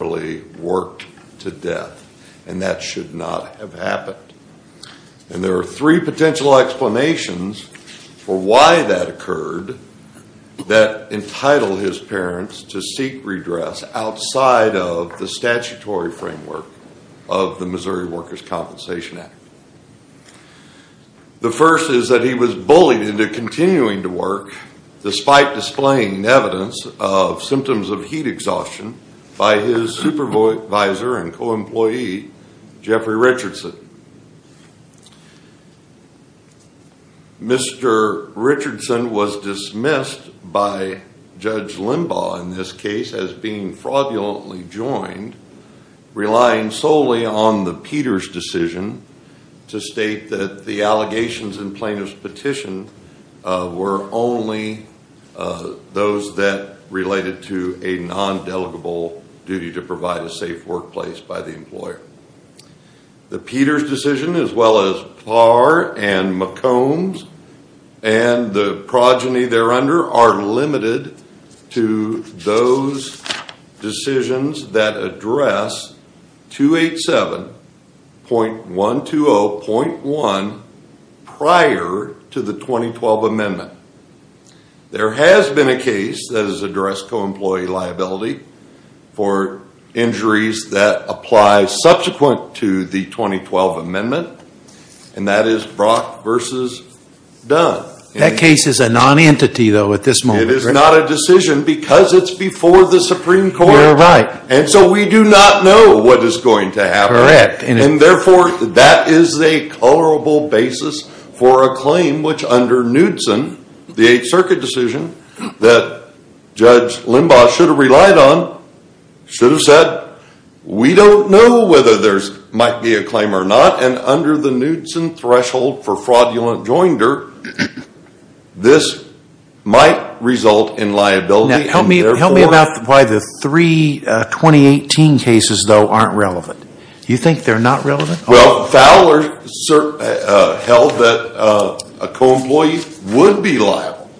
really worked to death and that should not have happened. And there are three potential explanations for why that occurred that entitle his parents to seek redress outside of the statutory framework of the Missouri Workers' Compensation Act. The first is that he was bullied into continuing to work despite displaying evidence of symptoms of heat exhaustion by his supervisor and co-employee Jeffrey Richardson. Mr. Richardson was dismissed by Judge Limbaugh in this case as being fraudulently joined, relying solely on the Peters decision to state that the allegations in Plaintiff's petition were only those that related to a non-delegable duty to provide a safe workplace by the employer. The Peters decision as well as Parr and McCombs and the progeny there under are limited to those decisions that address 287.120.1 prior to the 2012 amendment. There has been a case that has addressed co-employee liability for injuries that apply subsequent to the 2012 amendment and that is Brock v. Dunn. That case is a non-entity though at this moment. It is not a decision because it's before the Supreme Court. You're right. And so we do not know what is going to happen. Correct. And therefore that is a colorable basis for a claim which under Knudson, the 8th Circuit decision that Judge Limbaugh should have relied on, should have said we don't know whether there might be a claim or not and under the Knudson threshold for fraudulent joinder, this might result in liability. Now help me about why the three 2018 cases though aren't relevant. You think they're not relevant? Well Fowler held that a co-employee would be liable.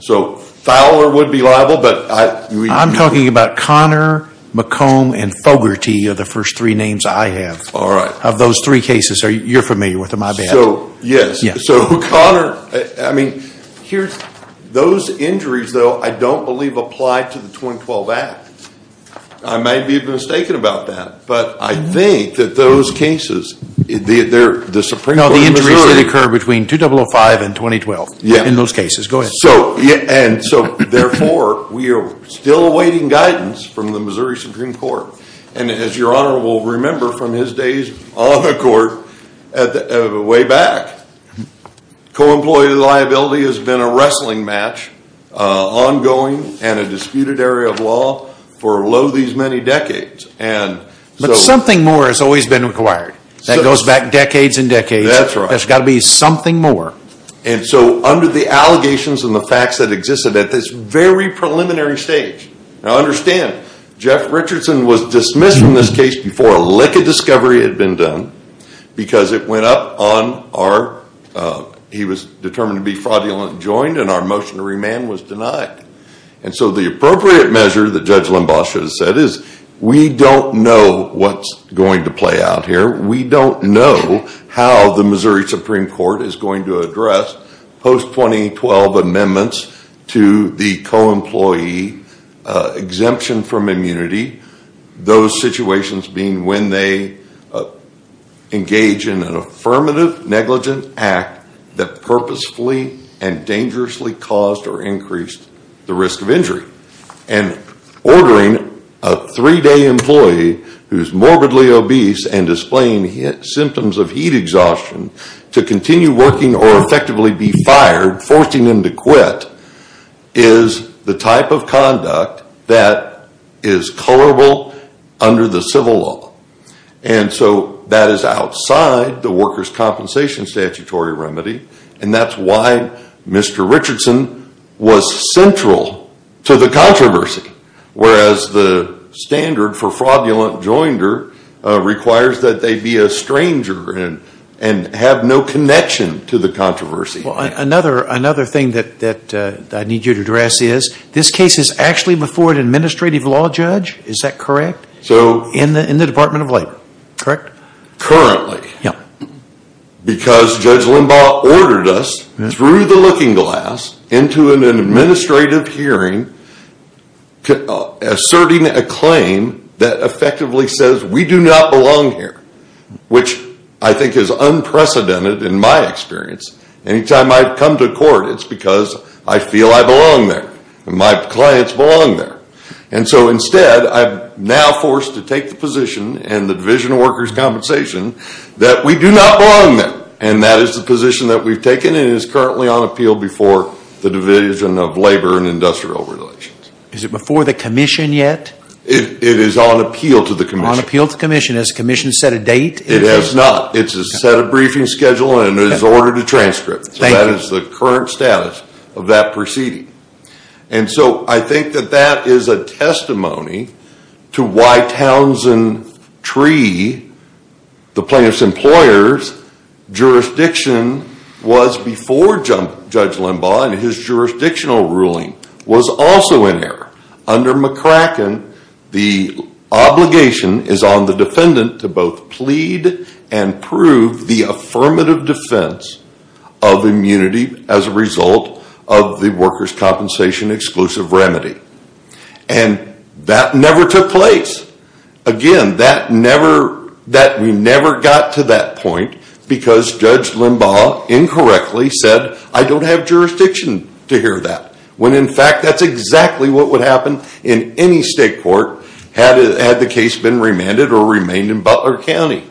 So Fowler would be liable. I'm talking about Connor, McComb and Fogarty are the first three names I have of those three cases you're familiar with. Am I bad? Yes. So Connor, I mean those injuries though I don't believe apply to the 2012 act. I may be mistaken about that but I think that those cases, the Supreme Court of Missouri. No the injuries did occur between 2005 and 2012 in those cases. Go ahead. And so therefore we are still awaiting guidance from the Missouri Supreme Court and as your honor will remember from his days on the court way back, co-employee liability has been a wrestling match, ongoing and a disputed area of law for lo these many decades. But something more has always been required. That goes back decades and decades. That's right. There's got to be something more. And so under the allegations and the facts that existed at this very preliminary stage. Now understand Jeff Richardson was dismissed from this case before a lick of discovery had been done because it went up on our, he was determined to be fraudulent joined and our motion to remand was denied. And so the appropriate measure that Judge Limbaugh should have said is we don't know what's going to play out here. We don't know how the Missouri Supreme Court is going to address post 2012 amendments to the co-employee exemption from immunity. Those situations being when they engage in an affirmative negligent act that purposefully and dangerously caused or increased the risk of injury. And ordering a three day employee who is morbidly obese and displaying symptoms of heat exhaustion to continue working or effectively be fired, forcing them to quit is the type of conduct that is colorable under the civil law. And so that is outside the workers compensation statutory remedy and that's why Mr. Richardson was central to the controversy. Whereas the standard for fraudulent joinder requires that they be a stranger and have no connection to the controversy. Another thing that I need you to address is this case is actually before an administrative law judge, is that correct? In the Department of Labor, correct? Currently. Because Judge Limbaugh ordered us through the looking glass into an administrative hearing asserting a claim that effectively says we do not belong here. Which I think is unprecedented in my experience. Anytime I've come to court it's because I feel I belong there. My clients belong there. And so instead I'm now forced to take the position in the Division of Workers Compensation that we do not belong there. And that is the position that we've taken and is currently on appeal before the Division of Labor and Industrial Relations. Is it before the commission yet? It is on appeal to the commission. On appeal to the commission. Has the commission set a date? It has not. It's a set of briefing schedule and it is ordered to transcript. So that is the current status of that proceeding. And so I think that that is a testimony to why Townsend Tree, the plaintiff's employer's jurisdiction was before Judge Limbaugh and his jurisdictional ruling was also in error. Under McCracken, the obligation is on the defendant to both plead and prove the affirmative defense of immunity as a result of the workers compensation exclusive remedy. And that never took place. Again, that never, that we never got to that point because Judge Limbaugh incorrectly said I don't have jurisdiction to hear that. When in fact that's exactly what would happen in any state court had the case been remanded or remained in Butler County.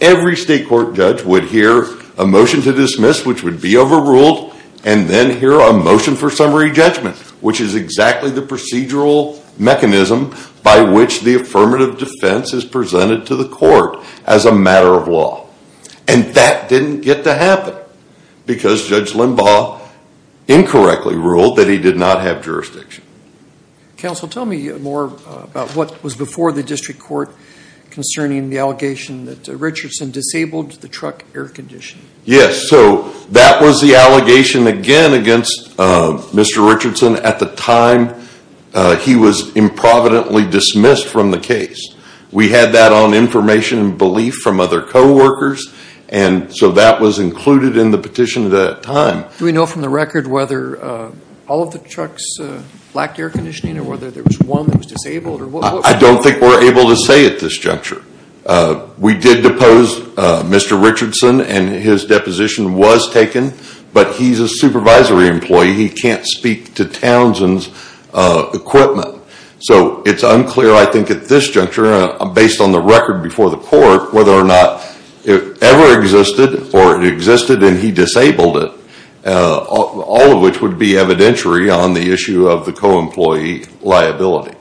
Every state court judge would hear a motion to dismiss which would be overruled and then hear a motion for summary judgment which is exactly the procedural mechanism by which the affirmative defense is presented to the court as a matter of law. And that didn't get to happen because Judge Limbaugh incorrectly ruled that he did not have jurisdiction. Counsel tell me more about what was before the district court concerning the allegation that Richardson disabled the truck air conditioning. Yes, so that was the allegation again against Mr. Richardson at the time he was improvidently dismissed from the case. We had that on information and belief from other co-workers and so that was included in the petition at that time. Do we know from the record whether all of the trucks lacked air conditioning or whether there was one that was disabled? I don't think we're able to say at this juncture. We did depose Mr. Richardson and his deposition was taken but he's a supervisory employee. He can't speak to Townsend's equipment. So it's unclear I think at this juncture based on the record before the court whether or not it ever existed or it existed and he disabled it. All of which would be evidentiary on the co-employee liability.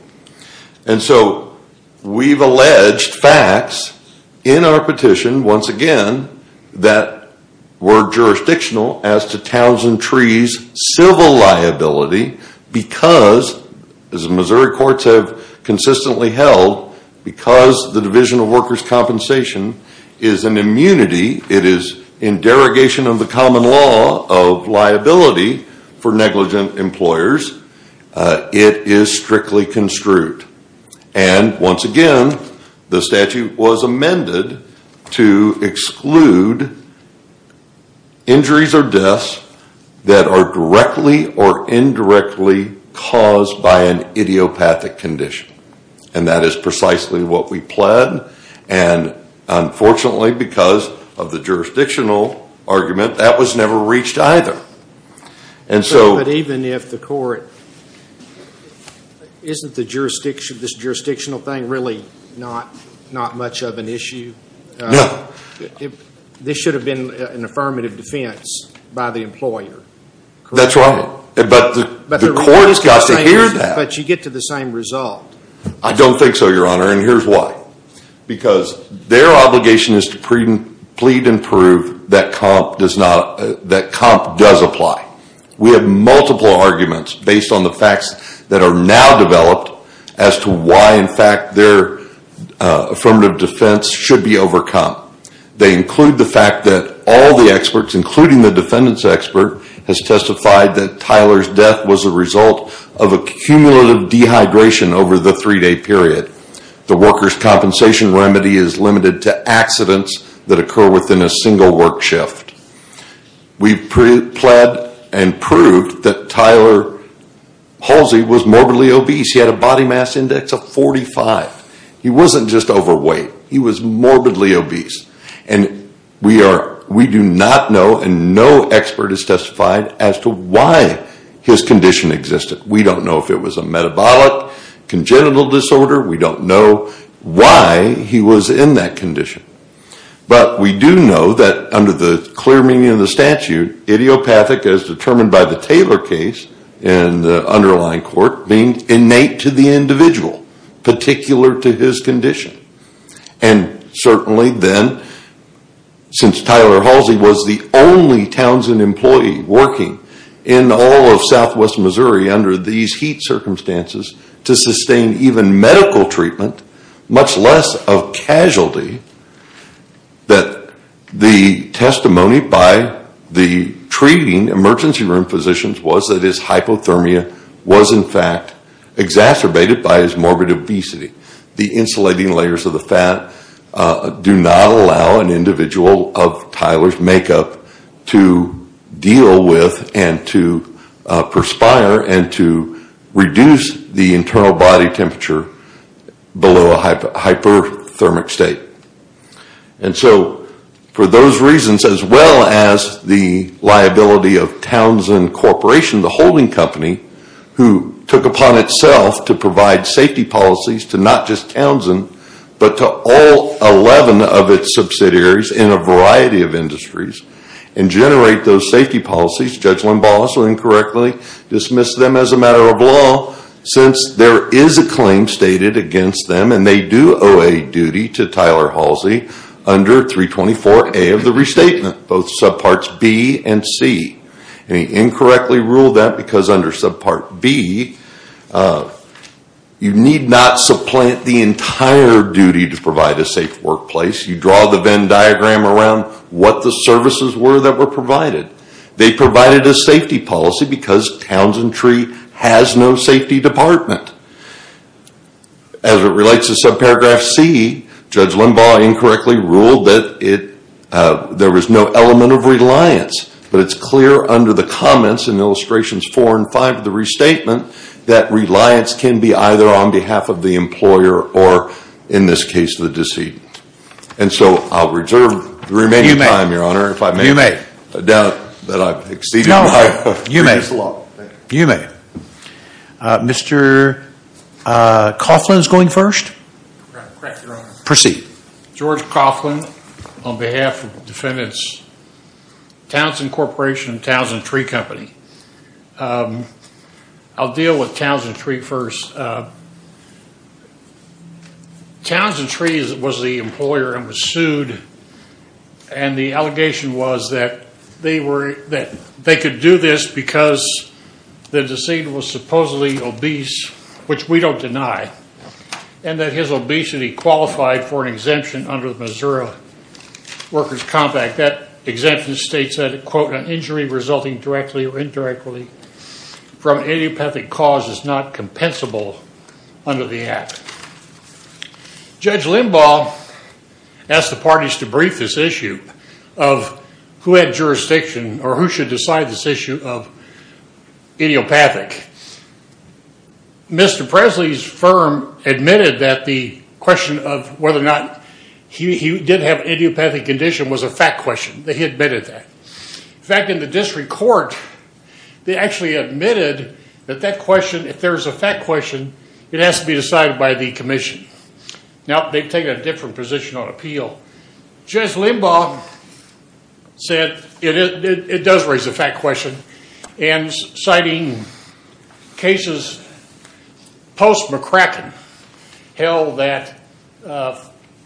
And so we've alleged facts in our petition once again that were jurisdictional as to Townsend Tree's civil liability because as Missouri courts have consistently held because the Division of Workers' Compensation is an immunity. It is in derogation of the common law of liability for negligent employers. It is strictly construed and once again the statute was amended to exclude injuries or deaths that are directly or indirectly caused by an idiopathic condition and that is precisely what we pled and unfortunately because of that we've never reached either. And so even if the court, isn't this jurisdictional thing really not much of an issue? No. This should have been an affirmative defense by the employer. That's right. But the court's got to hear that. But you get to the same result. I don't think so, Your Honor, and here's why. Because their obligation is to plead and prove that comp does apply. We have multiple arguments based on the facts that are now developed as to why in fact their affirmative defense should be overcome. They include the fact that all the experts, including the defendants expert, has testified that Tyler's death was a result of a cumulative dehydration over the three-day period. The worker's compensation remedy is limited to accidents that occur within a single work shift. We pled and proved that Tyler Halsey was morbidly obese. He had a body mass index of 45. He wasn't just overweight. He was morbidly obese and we do not know and no expert has testified as to why his condition existed. We don't know if it was a metabolic congenital disorder. We don't know why he was in that condition. But we do know that under the clear meaning of the statute, idiopathic as determined by the Taylor case and the underlying court, being innate to the individual, particular to his condition, and certainly then since Tyler Halsey was the only Townsend employee working in all of southwest Missouri under these heat circumstances to sustain even medical treatment, much less of casualty, that the testimony by the treating emergency room physicians was that his hypothermia was in fact exacerbated by his morbid obesity. The insulating layers of the fat do not allow an individual of Tyler's makeup to deal with and to perspire and to reduce the internal body temperature below a hypothermic state. And so for those reasons as well as the liability of Townsend Corporation, the holding company, who took upon itself to provide safety policies to not just Townsend but to all 11 of its policies, Judge Limbalis will incorrectly dismiss them as a matter of law since there is a claim stated against them and they do owe a duty to Tyler Halsey under 324A of the restatement, both subparts B and C. And he incorrectly ruled that because under subpart B, you need not supplant the entire duty to provide a safe workplace. You draw the Venn diagram around what the services were that were provided. They provided a safety policy because Townsend tree has no safety department. As it relates to subparagraph C, Judge Limbalis incorrectly ruled that there was no element of reliance, but it's clear under the comments in illustrations 4 and 5 of the restatement that reliance can be either on behalf of the employer or in this case the deceit. And so I'll reserve the remaining time, Your Honor, if I may. You may. I doubt that I've exceeded my previous law. You may. Mr. Coughlin is going first. Correct, Your Honor. Proceed. George Coughlin on behalf of defendants Townsend Corporation and Townsend Tree Company. I'll begin with the original statement that the employee was the employer and was sued, and the allegation was that they could do this because the deceit was supposedly obese, which we don't deny, and that his obesity qualified for an exemption under the Missouri Workers Compact. That exemption states that, quote, an injury resulting directly or indirectly from an idiopathic cause is not compensable under the Act. Judge Limbal asked the parties to brief this issue of who had jurisdiction or who should decide this issue of idiopathic. Mr. Presley's firm admitted that the question of whether or not he did have an idiopathic condition was a fact question, that he admitted that. In fact, in the district court, they actually admitted that that question, if there's a fact question, it has to be decided by the commission. Now, they've taken a different position on appeal. Judge Limbal said it does raise a fact question, and citing cases post-McCracken held that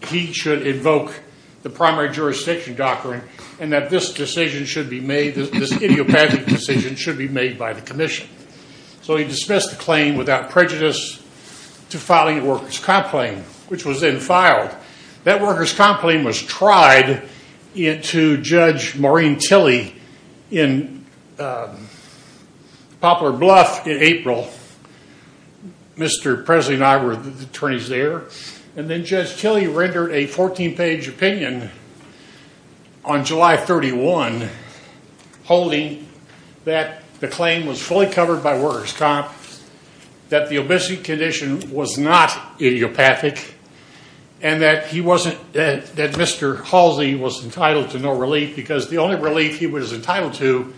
he should invoke the primary jurisdiction doctrine and that this decision should be made, this idiopathic decision should be made by the commission. So he dismissed the claim without prejudice to filing a workers' complaint, which was then filed. That workers' complaint was tried to Judge Maureen Tilley in Poplar Bluff in April. Mr. Presley and I were the witnesses. Judge Tilley rendered a 14-page opinion on July 31 holding that the claim was fully covered by workers' comp, that the obesity condition was not idiopathic, and that he wasn't, that Mr. Halsey was entitled to no relief because the only relief he was entitled to,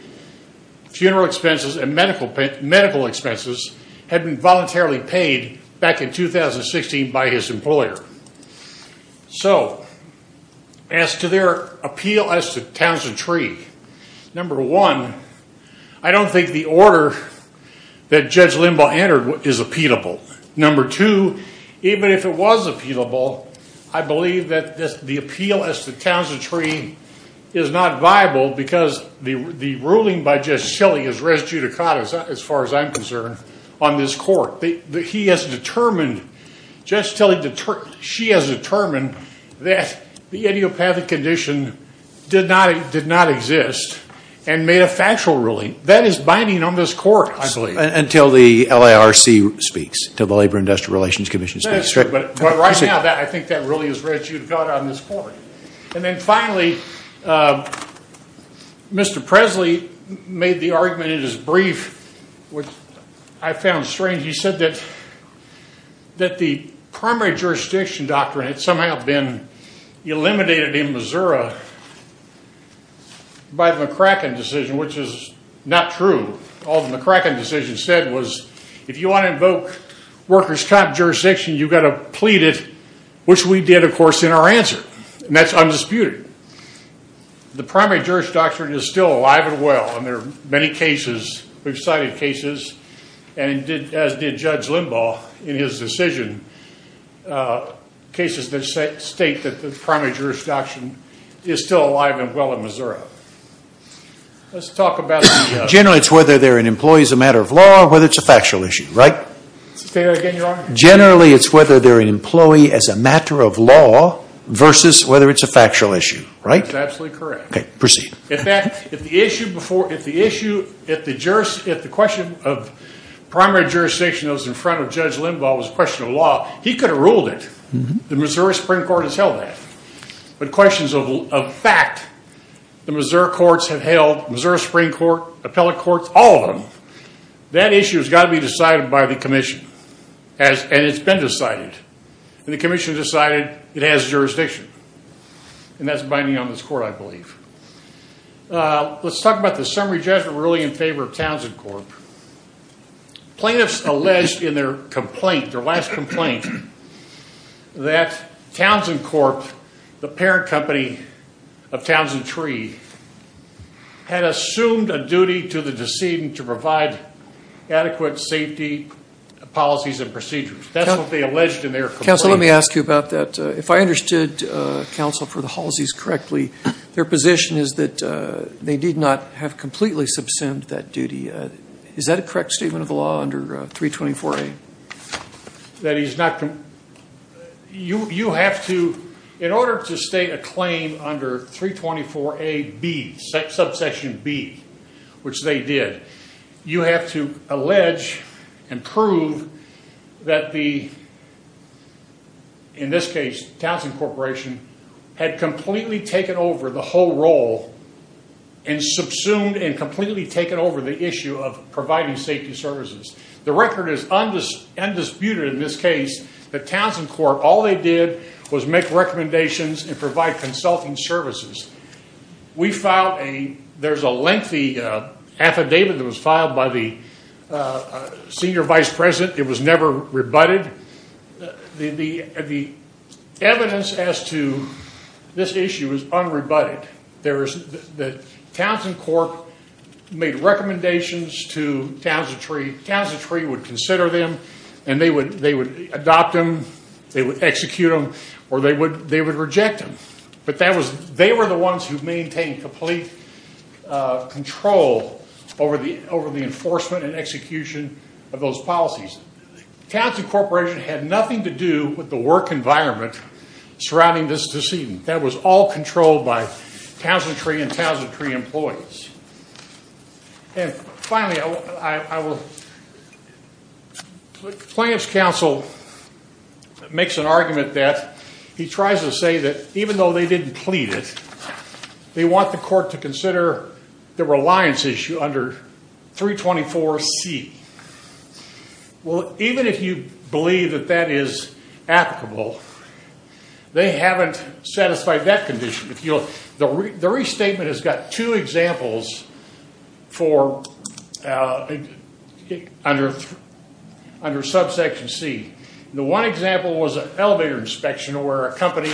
funeral expenses and medical expenses, had been voluntarily paid back in 2016 by his employer. So as to their appeal as to Townsend Tree, number one, I don't think the order that Judge Limbal entered is appealable. Number two, even if it was appealable, I believe that the appeal as to Townsend Tree is not viable because the ruling by Judge Tilley is res on this court. He has determined, Judge Tilley, she has determined that the idiopathic condition did not exist and made a factual ruling. That is binding on this court, I believe. Until the LARC speaks, until the Labor Industrial Relations Commission speaks. That's right. But right now, I think that really is what you've got on this court. And finally, Mr. Presley made the argument in his brief, which I found strange. He said that the primary jurisdiction doctrine had somehow been eliminated in Missouri by the McCracken decision, which is not true. All the McCracken decision said was, if you want to invoke workers' comp jurisdiction, you've got to plead it, which we did, of course, in our answer. And that's undisputed. The primary jurisdiction doctrine is still alive and well, and there are many cases, we've cited cases, as did Judge Limbal, in his decision, cases that state that the primary jurisdiction doctrine is still alive and well in Missouri. Generally it's whether they're an employee as a matter of law or whether it's a factual issue, right? Say that again, Your Honor. Generally it's whether they're an employee as a matter of law versus whether it's a factual issue, right? That's absolutely correct. Okay, proceed. In fact, if the question of primary jurisdiction that was in front of Judge Limbal was a question of law, he could have ruled it. The Missouri Supreme Court has held that. But questions of fact, the Missouri courts have held, Missouri Supreme Court, appellate courts, all of them, that issue has got to be decided by the commission. And it's been decided. And the commission decided it has jurisdiction. And that's binding on this court, I believe. Let's talk about the summary judgment ruling in favor of Townsend Corp. Plaintiffs alleged in their complaint, their last complaint, that Townsend Corp., the parent company of Halsey, did not provide adequate safety policies and procedures. That's what they alleged in their complaint. Counsel, let me ask you about that. If I understood counsel for the Halseys correctly, their position is that they did not have completely subsumed that duty. Is that a correct statement of the law under 324A? That is not, you have to, in order to state a claim under 324A B, subsection B, which they did, you have to allege and prove that the, in this case, Townsend Corporation, had completely taken over the whole role and subsumed and completely taken over the issue of providing safety services. The record is undisputed in this case that Townsend Corp., all they did was make recommendations and provide consulting services. We filed a, there's a lengthy affidavit that was filed by the senior vice president. It was never rebutted. The evidence as to this issue is unrebutted. There is, the Townsend Corp. made recommendations to Townsend Tree. Townsend Tree would consider them and they would adopt them, they would execute them, or they would reject them. But that was, they were the ones who maintained complete control over the, over the enforcement and execution of those policies. Townsend Corporation had nothing to do with the work environment surrounding this decedent. That was all controlled by Townsend Tree and Townsend Tree employees. And finally, I will, the plaintiff's counsel makes an argument that he tries to say that even though they didn't plead it, they want the court to consider the reliance issue under 324C. Well, even if you believe that that is applicable, they haven't satisfied that condition. If you'll, the restatement has got two examples for, under subsection C. The one example was an elevator inspection where a company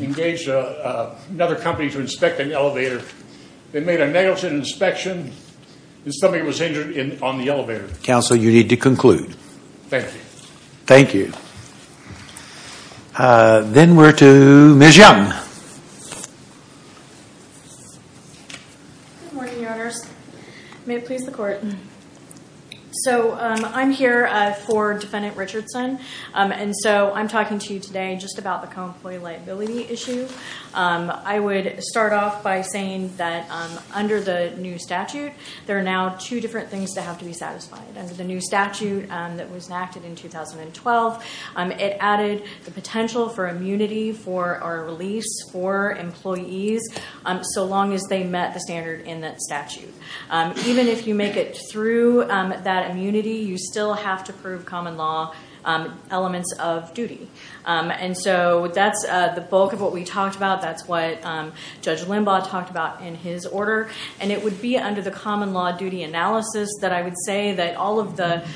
engaged another company to inspect an elevator. They made a negligent inspection and somebody was injured on the elevator. Counsel, you need to conclude. Thank you. Thank you. Then we're to Ms. Young. Good morning, Your Honors. May it please the court. So, I'm here for Defendant Richardson and so I'm talking to you today just about the co-employee liability issue. I would start off by saying that under the new statute, there are now two different things that have to be satisfied. Under the new statute that was enacted in 2012, it added the potential for immunity for a release for employees so long as they met the standard in that statute. Even if you make it through that immunity, you still have to prove common law elements of duty. That's the bulk of what we talked about. That's what Judge Limbaugh talked about in his order. It would be under the common law duty analysis that I would say that all of the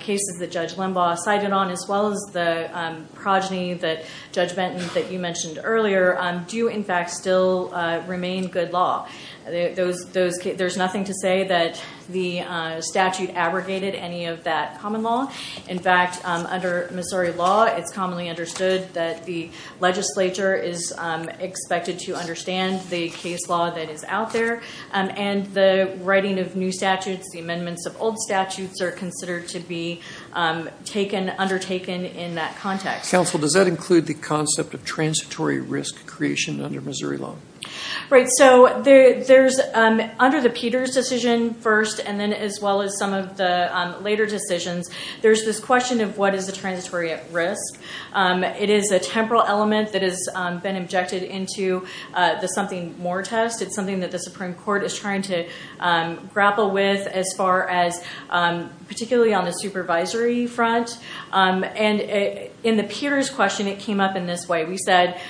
cases that Judge Limbaugh cited on, as well as the progeny, Judge Benton, that there is nothing to say that the statute abrogated any of that common law. In fact, under Missouri law, it's commonly understood that the legislature is expected to understand the case law that is out there and the writing of new statutes, the amendments of old statutes are considered to be undertaken in that context. Counsel, does that include the concept of transitory risk creation under Missouri law? Right. Under the Peters decision first, and then as well as some of the later decisions, there's this question of what is the transitory risk. It is a temporal element that has been injected into the something more test. It's something that the Supreme Court is trying to grapple with, particularly on the supervisory front. In the Peters question, it came up in this way. We said,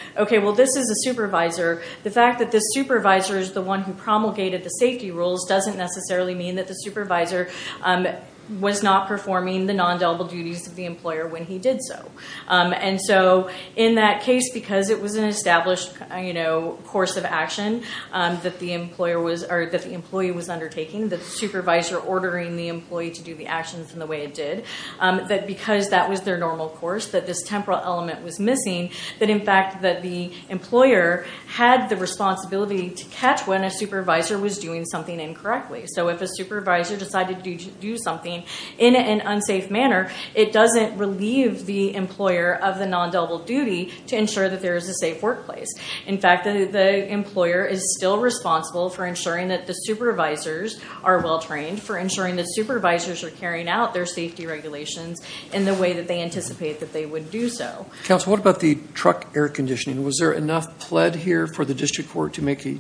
this is a supervisor. The fact that this supervisor is the one who promulgated the safety rules doesn't necessarily mean that the supervisor was not performing the non-deliberate duties of the employer when he did so. In that case, because it was an established course of action that the employee was undertaking, the supervisor ordering the employee to do the actions in the way it did, that because that was their normal course, this temporal element was missing. In fact, the employer had the responsibility to catch when a supervisor was doing something incorrectly. If a supervisor decided to do something in an unsafe manner, it doesn't relieve the employer of the non-deliberate duty to ensure that there is a safe workplace. In fact, the employer is still responsible for ensuring that the supervisors are well trained, for ensuring that supervisors are carrying out their safety regulations in the way that they anticipate that they would do so. Counsel, what about the truck air conditioning? Was there enough pled here for the district court to make a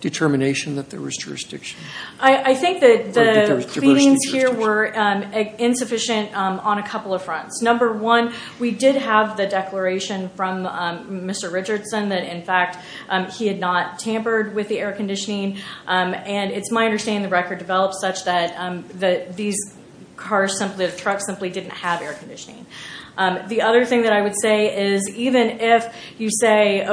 determination that there was jurisdiction? I think that the feelings here were insufficient on a couple of fronts. Number one, we did have the declaration from Mr. Richardson that in fact he had not tampered with the air conditioning. It's my understanding the record develops such that the truck simply didn't have air conditioning. The other thing that I would say is even if you say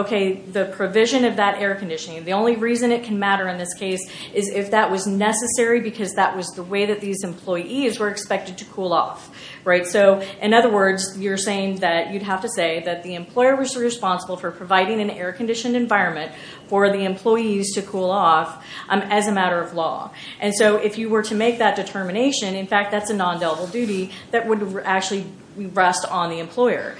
the provision of that air conditioning, the only reason it can matter in this case is if that was necessary because that was the way that these employees were expected to cool off. In other words, you're saying that you'd have to say that the employer was responsible for providing an air conditioned environment for the employees to cool off as a matter of law. If you were to make that determination, in fact that's a nondelible duty that would actually rest on the employer.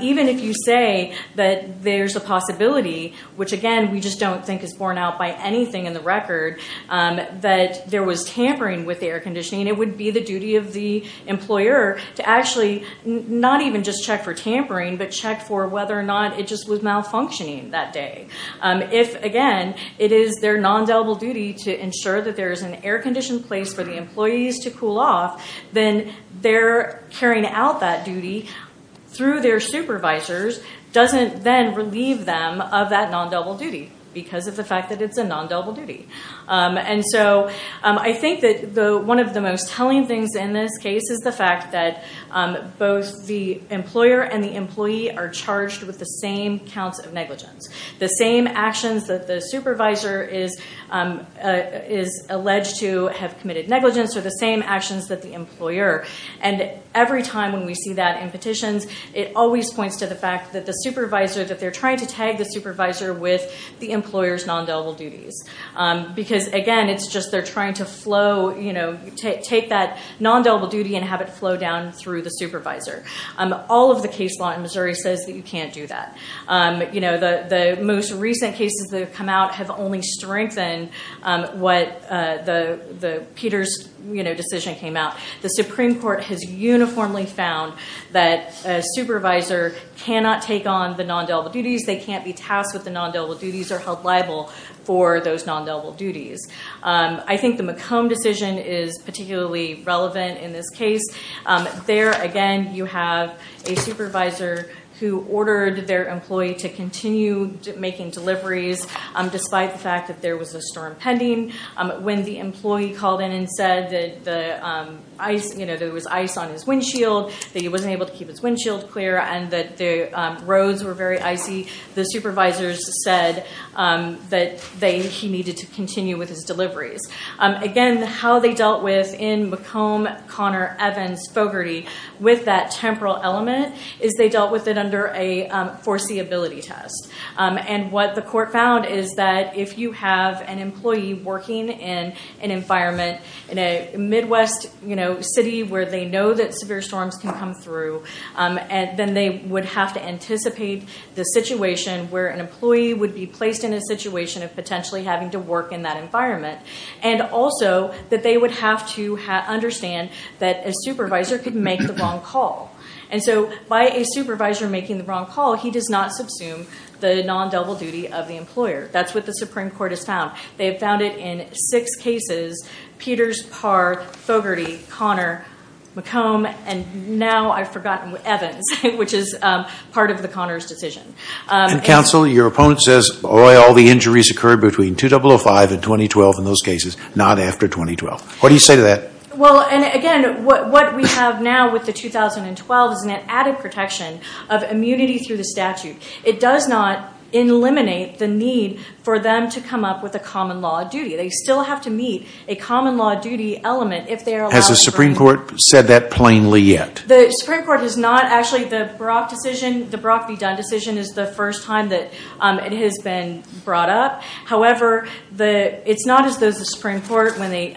Even if you say that there's a possibility, which again we just don't think is borne out by anything in the record, that there was tampering with the air conditioning, it would be the duty of the employer to actually not even just check for tampering, but check for whether or not it just was malfunctioning that day. If again, it is their nondelible duty to ensure that there is an air conditioned place for the employees to cool off, then their carrying out that duty through their supervisors doesn't then relieve them of that nondelible duty because of the fact that it's a nondelible duty. I think that one of the most telling things in this case is the fact that both the employer and the employee are charged with the same counts of negligence. The same actions that the supervisor is alleged to have committed negligence are the same actions that the employer. Every time when we see that in petitions, it always points to the fact that they're trying to tag the supervisor with the employer's to take that nondelible duty and have it flow down through the supervisor. All of the case law in Missouri says that you can't do that. The most recent cases that have come out have only strengthened what Peter's decision came out. The Supreme Court has uniformly found that a supervisor cannot take on the nondelible duties. They can't be tasked with those nondelible duties. I think the McComb decision is particularly relevant in this case. There, again, you have a supervisor who ordered their employee to continue making deliveries despite the fact that there was a storm pending. When the employee called in and said that there was ice on his windshield, that he wasn't able to keep his he needed to continue with his deliveries. Again, how they dealt with in McComb, Connor, Evans, Fogarty with that temporal element is they dealt with it under a foreseeability test. What the court found is that if you have an employee working in an environment in a Midwest city where they know that severe storms can come through, then they would have to anticipate the situation where an employee would be placed in a situation of potentially having to work in that environment. Also, that they would have to understand that a supervisor could make the wrong call. By a supervisor making the wrong call, he does not subsume the nondelible duty of the employer. That's what the Supreme Court has found. They have found it in six cases, Peters, Parr, Fogarty, Connor, McComb, and now I've forgotten Evans, which is part of the Connors decision. Counsel, your opponent says all the injuries occurred between 2005 and 2012 in those cases, not after 2012. What do you say to that? Again, what we have now with the 2012 is an added protection of immunity through the statute. It does not eliminate the need for them to come up with a common law duty. They still have to meet a common law duty element if they are allowed to. Has the Supreme Court said that plainly yet? The Supreme Court has not. Actually, the Brock v. Dunn decision is the first time that it has been brought up. However, it's not as though the Supreme Court, when they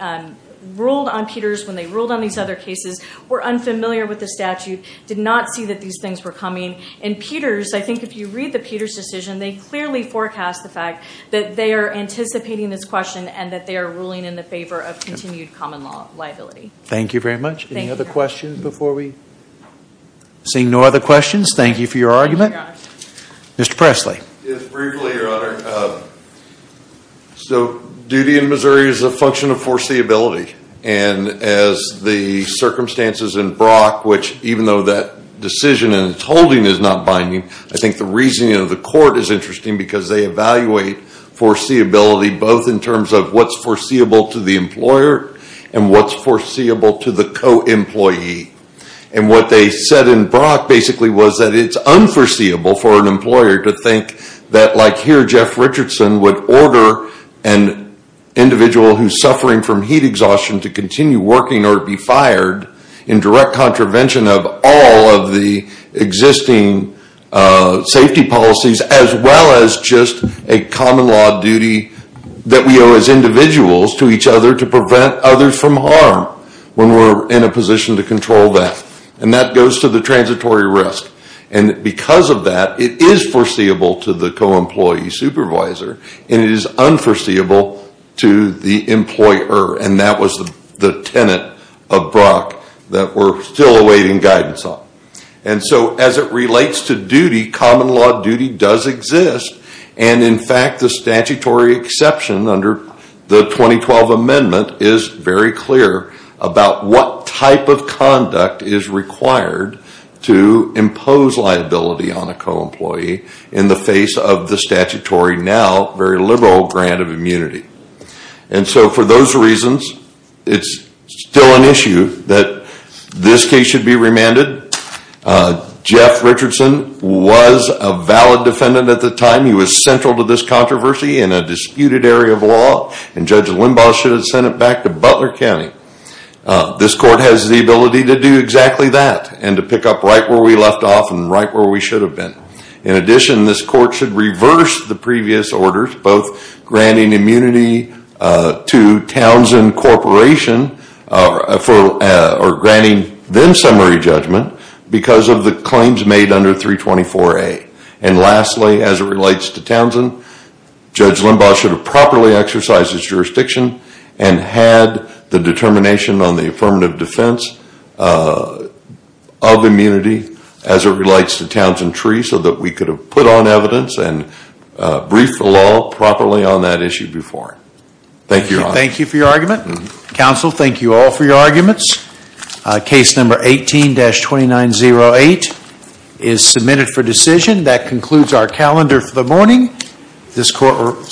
ruled on Peters, when they ruled on these other cases, were unfamiliar with the statute, did not see that these things were coming. Peters, I think if you read the Peters decision, they clearly forecast the fact that they are anticipating this question and that they are ruling in the favor of continued common law liability. Thank you very much. Any other questions before we? Seeing no other questions, thank you for your argument. Mr. Presley. Briefly, Your Honor. So duty in Missouri is a function of foreseeability. And as the circumstances in Brock, which even though that decision in its holding is not binding, I think the reasoning of the court is interesting because they evaluate foreseeability both in terms of what's foreseeable to the employer and what's foreseeable to the co-employee. And what they said in Brock basically was that it's unforeseeable for an employer to think that like here Jeff Richardson would order an individual who's suffering from heat exhaustion to continue working or be fired in direct contravention of all of the existing safety policies as well as just a common law duty that we owe as individuals to each other to prevent others from harm when we're in a position to control that. And that goes to the transitory risk. And because of that, it is foreseeable to the co-employee supervisor and it is unforeseeable to the employer. And that was the tenet of Brock that we're still awaiting guidance on. And so as it relates to duty, common law duty does exist. And in fact the statutory exception under the 2012 amendment is very clear about what type of conduct is required to impose liability on a co-employee in the face of the statutory now very liberal grant of immunity. And so for those reasons, it's still an issue that this case should be remanded. Jeff Richardson was a valid defendant at the time. He was central to this controversy in a disputed area of law and Judge Limbaugh should have sent it back to Butler County. This court has the ability to do exactly that and to pick up right where we left off and right where we should have been. In addition, this court should reverse the previous orders both granting immunity to Townsend Corporation or granting them summary judgment because of the claims made under 324A. And lastly, as it relates to Townsend, Judge Limbaugh should have properly exercised his jurisdiction and had the determination on the affirmative defense of immunity as it relates to Townsend Tree so that we could have put on evidence and briefed the law properly on that issue before. Thank you, Your Honor. Thank you for your argument. Counsel, thank you all for your arguments. Case number 18-2908 is submitted for decision. That concludes our calendar for the morning.